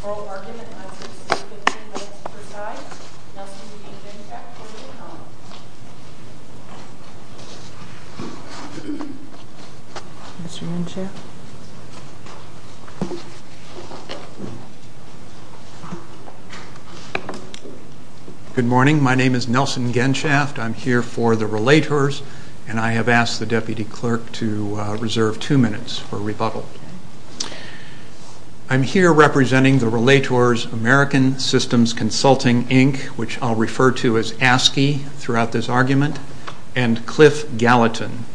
Brawl argument on 6 and 3 Which Precise Nelson v. Benchak Lord of the Alms and Queen's altar Mr. Benchak Good morning, my name is Nelson Genshaft, I'm here for the Relators, and I have asked the Deputy Clerk to reserve two minutes for rebuttal. I'm here representing the Relators American Systems Consulting Inc., which I'll refer to as ASCII throughout this argument, and Cliff Gallatin.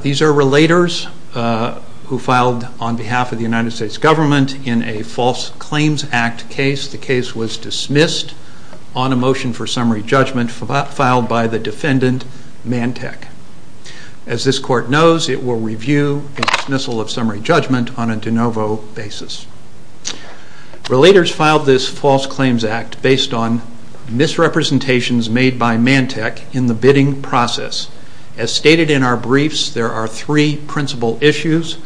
These are Relators who filed on behalf of the United States government in a False Claims Act case. The case was dismissed on a motion for summary judgment filed by the defendant, Mantek. As this court knows, it will review a dismissal of summary judgment on a de novo basis. Relators filed this False Claims Act based on misrepresentations made by Mantek in the bidding process. As stated in our briefs, there are three principal issues.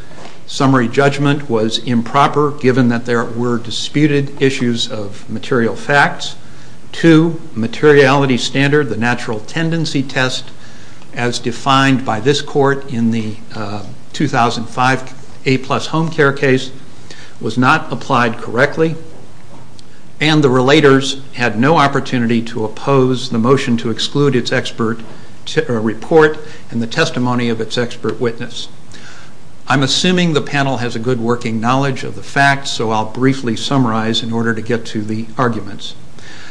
Summary judgment was improper given that there were disputed issues of material facts. Two, materiality standard, the natural tendency test, as defined by this court in the 2005 A-plus home care case, was not applied correctly. And the Relators had no opportunity to oppose the motion to exclude its expert report and the testimony of its expert witness. I'm assuming the panel has a good working knowledge of the facts, so I'll briefly summarize in order to get to the arguments.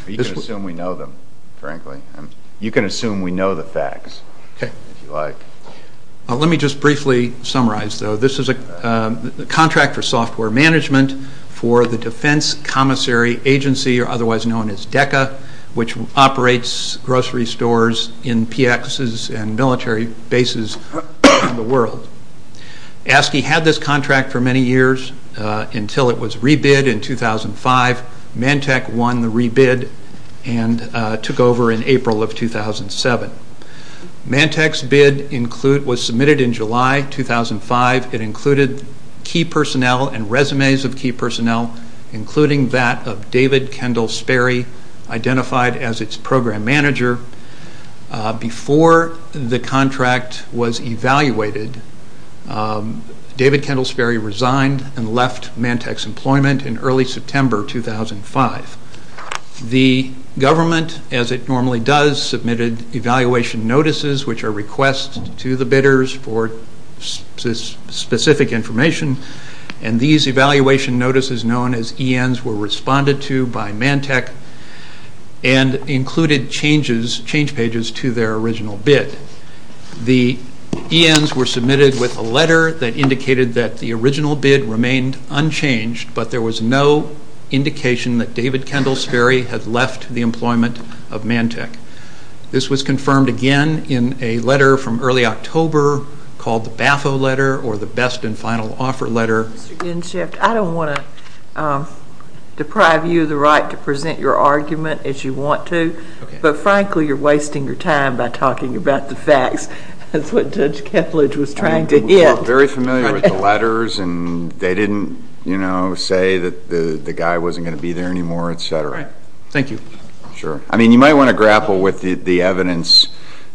You can assume we know them, frankly. You can assume we know the facts, if you like. Let me just briefly summarize, though. This is a contract for software management for the Defense Commissary Agency, otherwise known as DECA, which operates grocery stores in PXs and military bases around the world. ASCII had this contract for many years until it was re-bid in 2005. Mantek won the re-bid and took over in April of 2007. Mantek's bid was submitted in July 2005. It included key personnel and resumes of key personnel, including that of David Kendall Sperry, identified as its program manager. Before the contract was evaluated, David Kendall Sperry resigned and left Mantek's employment in early September 2005. The government, as it normally does, submitted evaluation notices, which are requests to the bidders for specific information. These evaluation notices, known as ENs, were responded to by Mantek and included change pages to their original bid. The ENs were submitted with a letter that indicated that the original bid remained unchanged, but there was no indication that David Kendall Sperry had left the employment of Mantek. This was confirmed again in a letter from early October called the BAFO letter, or the Best and Final Offer letter. Mr. Ginshift, I don't want to deprive you of the right to present your argument as you want to, but frankly you're wasting your time by talking about the facts. That's what Judge Kethledge was trying to hit. I'm very familiar with the letters, and they didn't, you know, say that the guy wasn't going to be there anymore, et cetera. Thank you. Sure. I mean, you might want to grapple with the evidence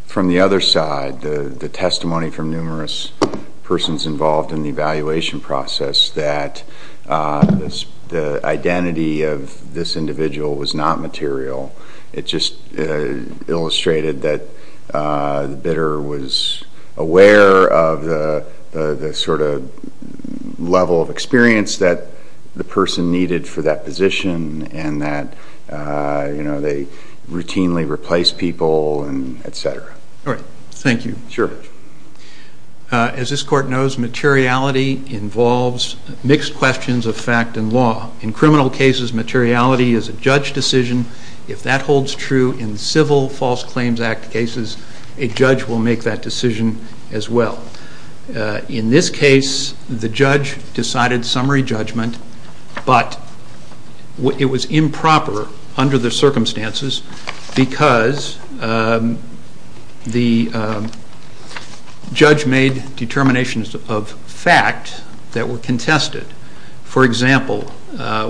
from the other side, the testimony from numerous persons involved in the evaluation process that the identity of this individual was not material. It just illustrated that the bidder was aware of the sort of level of experience that the person needed for that position and that, you know, they routinely replaced people and et cetera. All right. Thank you. Sure. As this Court knows, materiality involves mixed questions of fact and law. In criminal cases, materiality is a judge decision. If that holds true in civil False Claims Act cases, a judge will make that decision as well. In this case, the judge decided summary judgment, but it was improper under the circumstances because the judge made determinations of fact that were contested. For example, the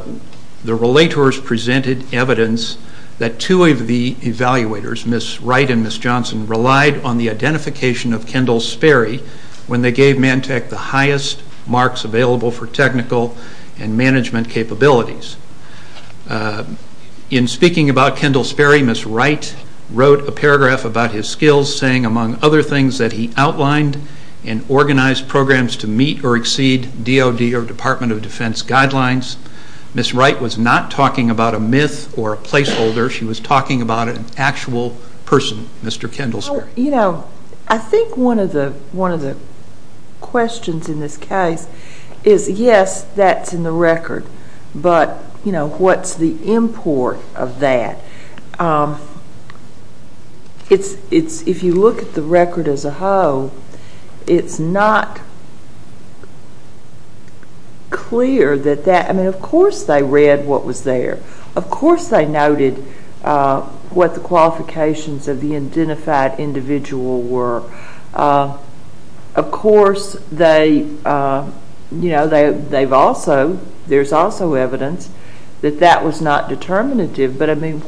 relators presented evidence that two of the evaluators, Ms. Wright and Ms. Johnson, relied on the identification of Kendall Sperry when they gave Mantec the highest marks available for technical and management capabilities. In speaking about Kendall Sperry, Ms. Wright wrote a paragraph about his skills, saying, among other things, that he outlined and organized programs to meet or exceed DOD or Department of Defense guidelines. Ms. Wright was not talking about a myth or a placeholder. She was talking about an actual person, Mr. Kendall Sperry. You know, I think one of the questions in this case is, yes, that's in the record, but, you know, what's the import of that? It's, if you look at the record as a whole, it's not clear that that, I mean, of course they read what was there. Of course they noted what the qualifications of the identified individual were. Of course they, you know, they've also, there's also evidence that that was not determinative, but, I mean,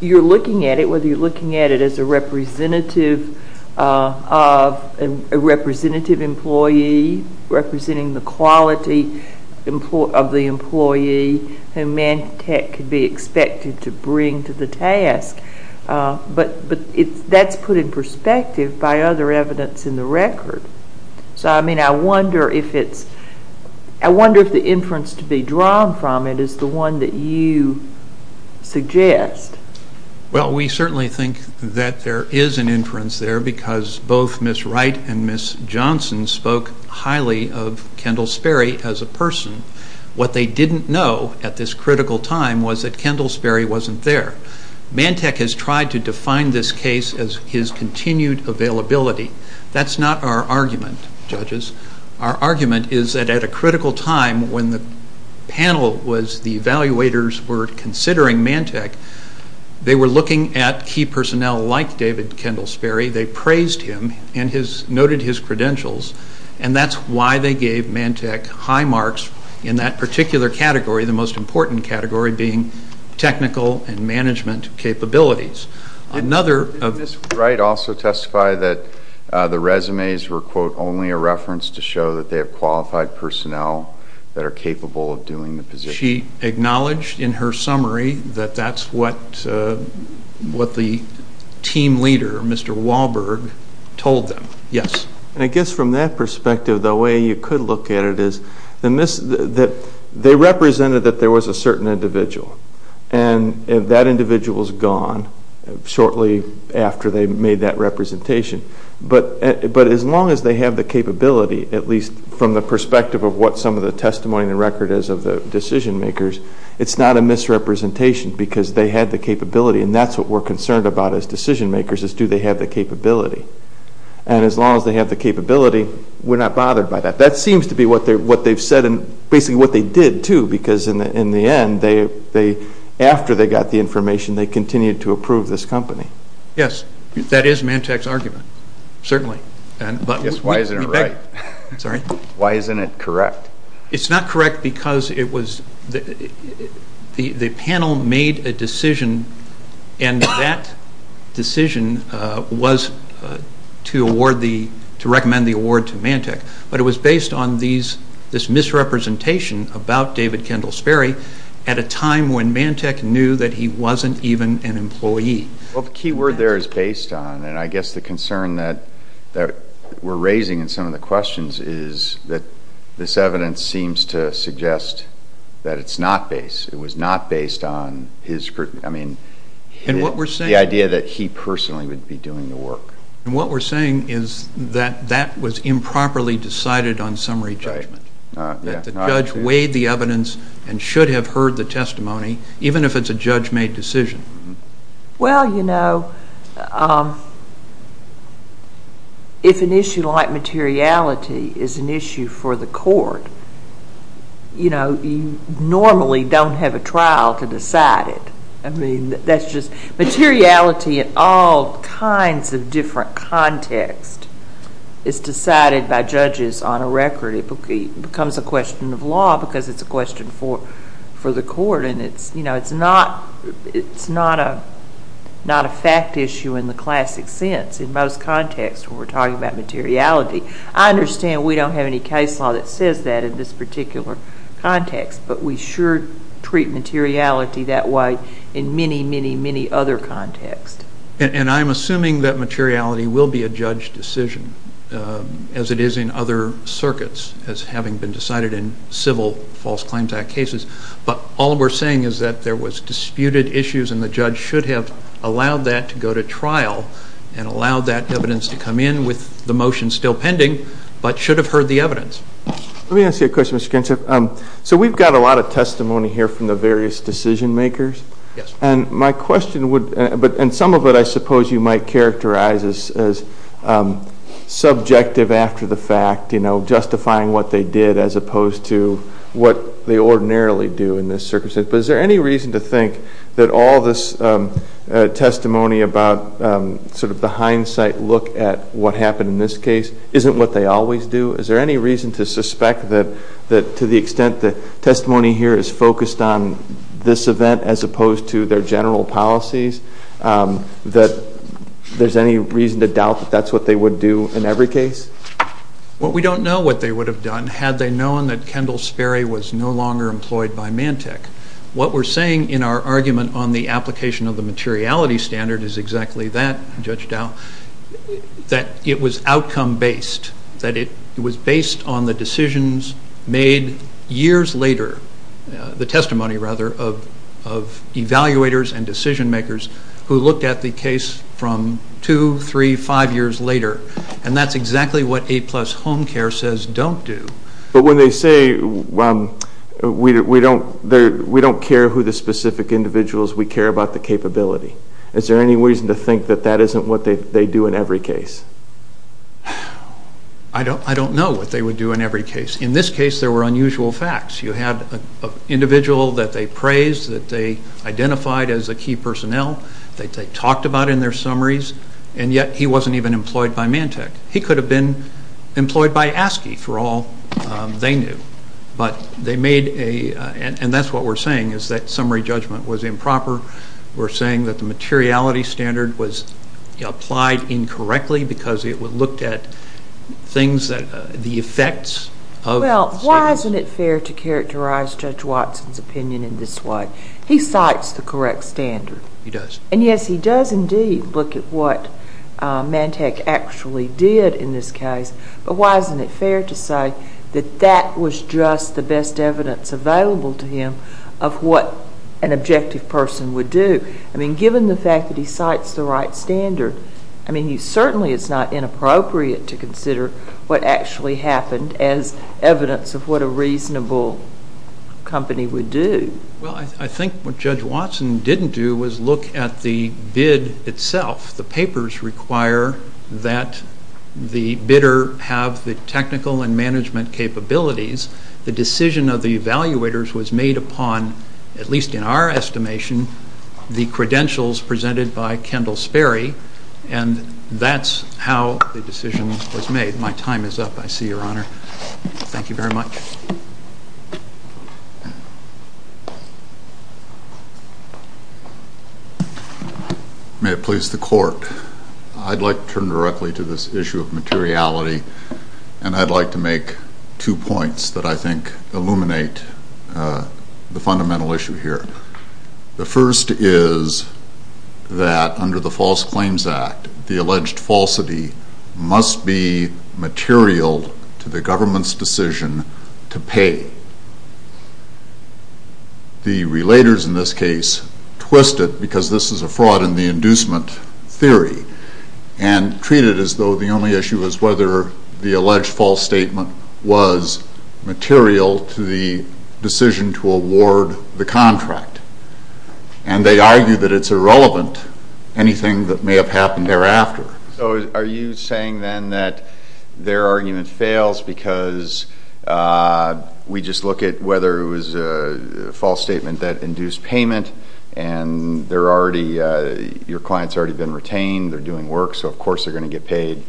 you're looking at it, whether you're looking at it as a representative employee, representing the quality of the employee who Mantec could be expected to bring to the task, but that's put in perspective by other evidence in the record. So, I mean, I wonder if it's, I wonder if the inference to be drawn from it is the one that you suggest. Well, we certainly think that there is an inference there because both Ms. Wright and Ms. Johnson spoke highly of Kendall Sperry as a person. What they didn't know at this critical time was that Kendall Sperry wasn't there. Mantec has tried to define this case as his continued availability. That's not our argument, judges. Our argument is that at a critical time when the panel was, the evaluators were considering Mantec, they were looking at key personnel like David Kendall Sperry. They praised him and noted his credentials, and that's why they gave Mantec high marks in that particular category, the most important category being technical and management capabilities. Did Ms. Wright also testify that the resumes were, quote, only a reference to show that they have qualified personnel that are capable of doing the position? She acknowledged in her summary that that's what the team leader, Mr. Wahlberg, told them. Yes. And I guess from that perspective, the way you could look at it is they represented that there was a certain individual, and that individual is gone shortly after they made that representation. But as long as they have the capability, at least from the perspective of what some of the testimony and record is of the decision makers, it's not a misrepresentation because they had the capability, and that's what we're concerned about as decision makers is do they have the capability. And as long as they have the capability, we're not bothered by that. That seems to be what they've said and basically what they did, too, because in the end, after they got the information, they continued to approve this company. Yes. That is Mantec's argument, certainly. Why isn't it right? Sorry? Why isn't it correct? It's not correct because the panel made a decision, and that decision was to recommend the award to Mantec, but it was based on this misrepresentation about David Kendall Sperry at a time when Mantec knew that he wasn't even an employee. Well, the key word there is based on, and I guess the concern that we're raising in some of the questions is that this evidence seems to suggest that it's not based. It was not based on the idea that he personally would be doing the work. And what we're saying is that that was improperly decided on summary judgment, that the judge weighed the evidence and should have heard the testimony, even if it's a judge-made decision. Well, you know, if an issue like materiality is an issue for the court, you know, you normally don't have a trial to decide it. I mean, that's just materiality in all kinds of different contexts is decided by judges on a record. It becomes a question of law because it's a question for the court, and it's, you know, it's not a fact issue in the classic sense in most contexts when we're talking about materiality. I understand we don't have any case law that says that in this particular context, but we sure treat materiality that way in many, many, many other contexts. And I'm assuming that materiality will be a judge decision, as it is in other circuits, as having been decided in civil False Claims Act cases. But all we're saying is that there was disputed issues, and allowed that evidence to come in with the motion still pending, but should have heard the evidence. Let me ask you a question, Mr. Kinship. So we've got a lot of testimony here from the various decision makers. Yes. And my question would, and some of it I suppose you might characterize as subjective after the fact, you know, justifying what they did as opposed to what they ordinarily do in this circumstance. Mr. Kinship, is there any reason to think that all this testimony about sort of the hindsight look at what happened in this case isn't what they always do? Is there any reason to suspect that to the extent that testimony here is focused on this event as opposed to their general policies, that there's any reason to doubt that that's what they would do in every case? Well, we don't know what they would have done had they known that Kendall Sperry was no longer employed by Mantec. What we're saying in our argument on the application of the materiality standard is exactly that, Judge Dow, that it was outcome-based, that it was based on the decisions made years later, the testimony rather of evaluators and decision makers who looked at the case from two, three, five years later, and that's exactly what A-plus Home Care says don't do. But when they say we don't care who the specific individual is, we care about the capability, is there any reason to think that that isn't what they do in every case? I don't know what they would do in every case. In this case there were unusual facts. You had an individual that they praised, that they identified as a key personnel, that they talked about in their summaries, and yet he wasn't even employed by Mantec. He could have been employed by ASCII for all they knew. But they made a, and that's what we're saying, is that summary judgment was improper. We're saying that the materiality standard was applied incorrectly because it looked at things that, the effects. Well, why isn't it fair to characterize Judge Watson's opinion in this way? He cites the correct standard. He does. And, yes, he does indeed look at what Mantec actually did in this case, but why isn't it fair to say that that was just the best evidence available to him of what an objective person would do? I mean, given the fact that he cites the right standard, I mean, certainly it's not inappropriate to consider what actually happened as evidence of what a reasonable company would do. Well, I think what Judge Watson didn't do was look at the bid itself. The papers require that the bidder have the technical and management capabilities. The decision of the evaluators was made upon, at least in our estimation, the credentials presented by Kendall Sperry, and that's how the decision was made. My time is up. I see, Your Honor. Thank you very much. May it please the Court. I'd like to turn directly to this issue of materiality, and I'd like to make two points that I think illuminate the fundamental issue here. The first is that under the False Claims Act, the alleged falsity must be material to the government's decision to pay. The relators in this case twist it, because this is a fraud in the inducement theory, and treat it as though the only issue is whether the alleged false statement was material to the decision to award the contract. And they argue that it's irrelevant, anything that may have happened thereafter. So are you saying then that their argument fails because we just look at whether it was a false statement that induced payment, and your client's already been retained, they're doing work, so of course they're going to get paid.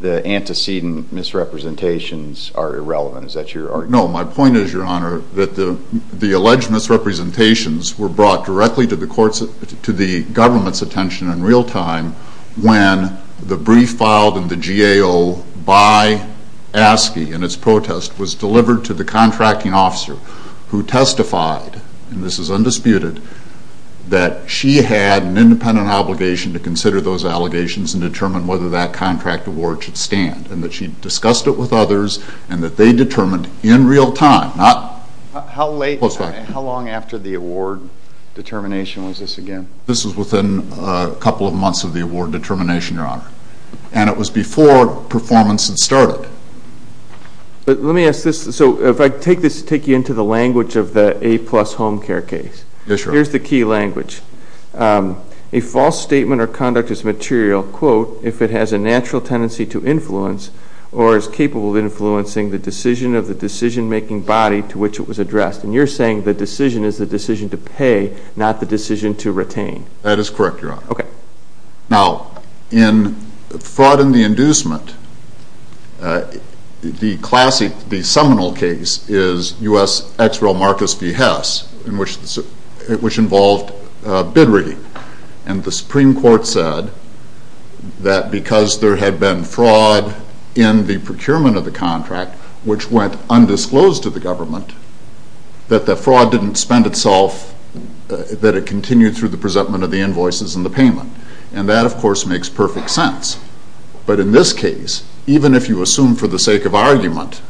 The antecedent misrepresentations are irrelevant. Is that your argument? No, my point is, Your Honor, that the alleged misrepresentations were brought directly to the government's attention in real time when the brief filed in the GAO by ASCII in its protest was delivered to the contracting officer who testified, and this is undisputed, that she had an independent obligation to consider those allegations and determine whether that contract award should stand. And that she discussed it with others, and that they determined in real time. How long after the award determination was this again? This was within a couple of months of the award determination, Your Honor. And it was before performance had started. Let me ask this. So if I take this, take you into the language of the A-plus home care case. Yes, Your Honor. Here's the key language. A false statement or conduct is material, quote, if it has a natural tendency to influence or is capable of influencing the decision of the decision-making body to which it was addressed. And you're saying the decision is the decision to pay, not the decision to retain. That is correct, Your Honor. Okay. Now, in fraud and the inducement, the seminal case is U.S. ex-rel Marcus V. Hess, which involved bid reading. And the Supreme Court said that because there had been fraud in the procurement of the contract, which went undisclosed to the government, that the fraud didn't spend itself, that it continued through the presentment of the invoices and the payment. And that, of course, makes perfect sense. But in this case, even if you assume for the sake of argument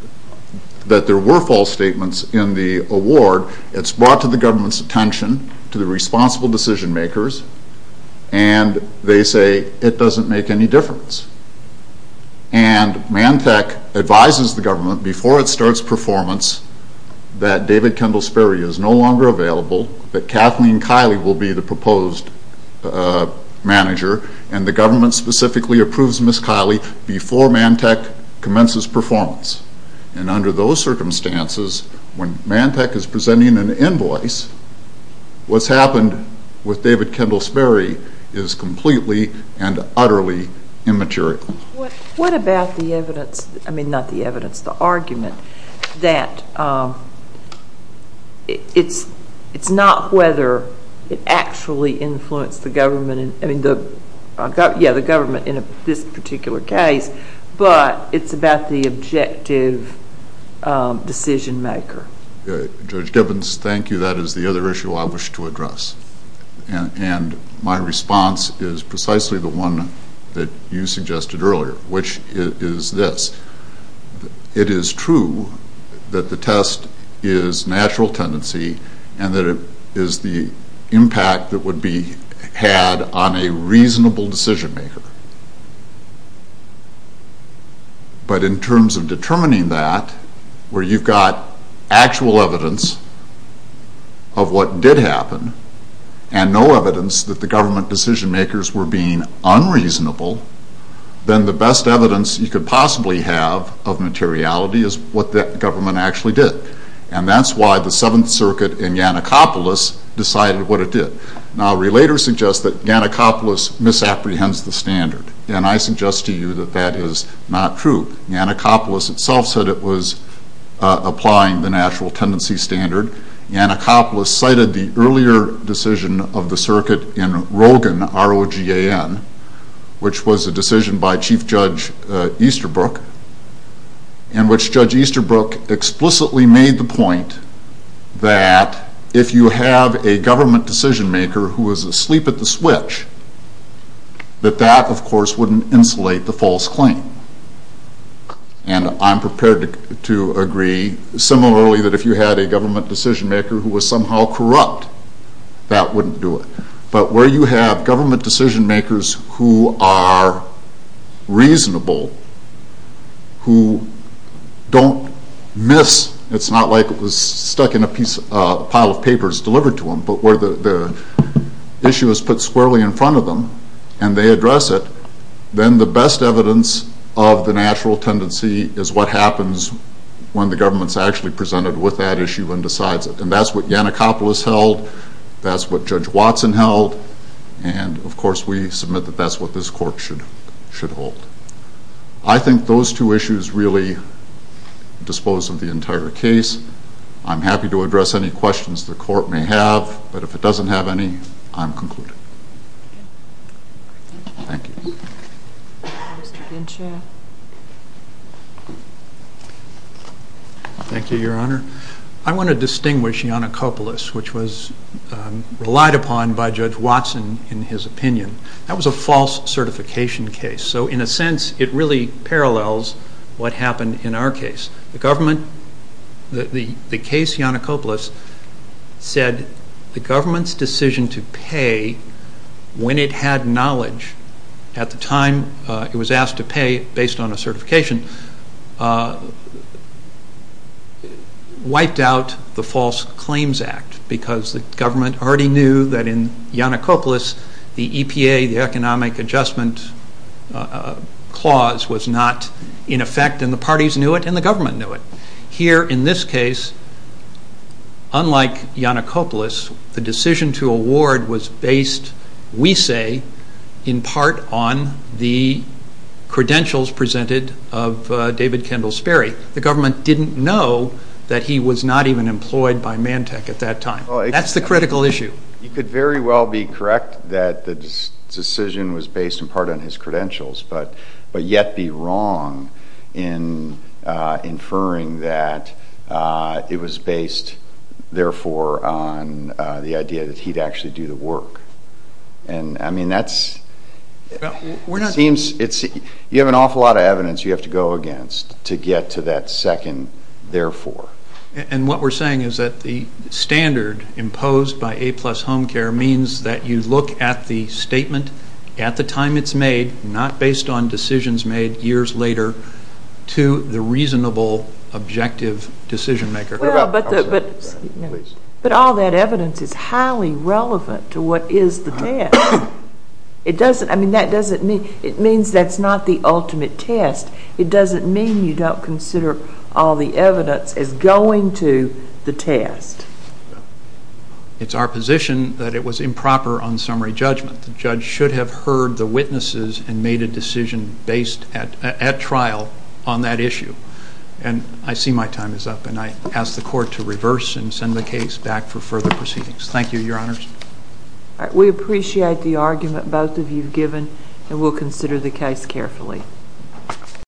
that there were false statements in the award, it's brought to the government's attention, to the responsible decision-makers, and they say it doesn't make any difference. And Mantech advises the government, before it starts performance, that David Kendall Sperry is no longer available, that Kathleen Kiley will be the proposed manager, and the government specifically approves Ms. Kiley before Mantech commences performance. And under those circumstances, when Mantech is presenting an invoice, what's happened with David Kendall Sperry is completely and utterly immaterial. What about the evidence, I mean, not the evidence, the argument, that it's not whether it actually influenced the government in this particular case, but it's about the objective decision-maker? Judge Gibbons, thank you. That is the other issue I wish to address. And my response is precisely the one that you suggested earlier, which is this. It is true that the test is natural tendency and that it is the impact that would be had on a reasonable decision-maker. But in terms of determining that, where you've got actual evidence of what did happen, and no evidence that the government decision-makers were being unreasonable, then the best evidence you could possibly have of materiality is what the government actually did. And that's why the Seventh Circuit in Yannikopoulos decided what it did. Now, relators suggest that Yannikopoulos misapprehends the standard. And I suggest to you that that is not true. Yannikopoulos itself said it was applying the natural tendency standard. Yannikopoulos cited the earlier decision of the circuit in Rogan, R-O-G-A-N, which was a decision by Chief Judge Easterbrook, in which Judge Easterbrook explicitly made the point that if you have a government decision-maker who was asleep at the switch, that that, of course, wouldn't insulate the false claim. And I'm prepared to agree similarly that if you had a government decision-maker who was somehow corrupt, that wouldn't do it. But where you have government decision-makers who are reasonable, who don't miss, it's not like it was stuck in a pile of papers delivered to them, but where the issue is put squarely in front of them and they address it, then the best evidence of the natural tendency is what happens when the government is actually presented with that issue and decides it. And that's what Yannikopoulos held. That's what Judge Watson held. And, of course, we submit that that's what this Court should hold. I think those two issues really dispose of the entire case. I'm happy to address any questions the Court may have. But if it doesn't have any, I'm concluded. Thank you. Mr. Genshaw. Thank you, Your Honor. I want to distinguish Yannikopoulos, which was relied upon by Judge Watson in his opinion. That was a false certification case. So, in a sense, it really parallels what happened in our case. The case Yannikopoulos said the government's decision to pay when it had knowledge at the time it was asked to pay based on a certification wiped out the False Claims Act because the government already knew that in Yannikopoulos the EPA, the Economic Adjustment Clause was not in effect and the parties knew it and the government knew it. Here in this case, unlike Yannikopoulos, the decision to award was based, we say, in part on the credentials presented of David Kendall Sperry. The government didn't know that he was not even employed by Mantec at that time. That's the critical issue. You could very well be correct that the decision was based in part on his credentials, but yet be wrong in inferring that it was based, therefore, on the idea that he'd actually do the work. I mean, you have an awful lot of evidence you have to go against to get to that second, therefore. And what we're saying is that the standard imposed by A-plus Home Care means that you look at the statement at the time it's made, not based on decisions made years later, to the reasonable, objective decision maker. Well, but all that evidence is highly relevant to what is the test. It doesn't, I mean, that doesn't mean, it means that's not the ultimate test. It doesn't mean you don't consider all the evidence as going to the test. It's our position that it was improper on summary judgment. The judge should have heard the witnesses and made a decision based at trial on that issue. And I see my time is up, and I ask the court to reverse and send the case back for further proceedings. Thank you, Your Honors. All right. We appreciate the argument both of you have given, and we'll consider the case carefully.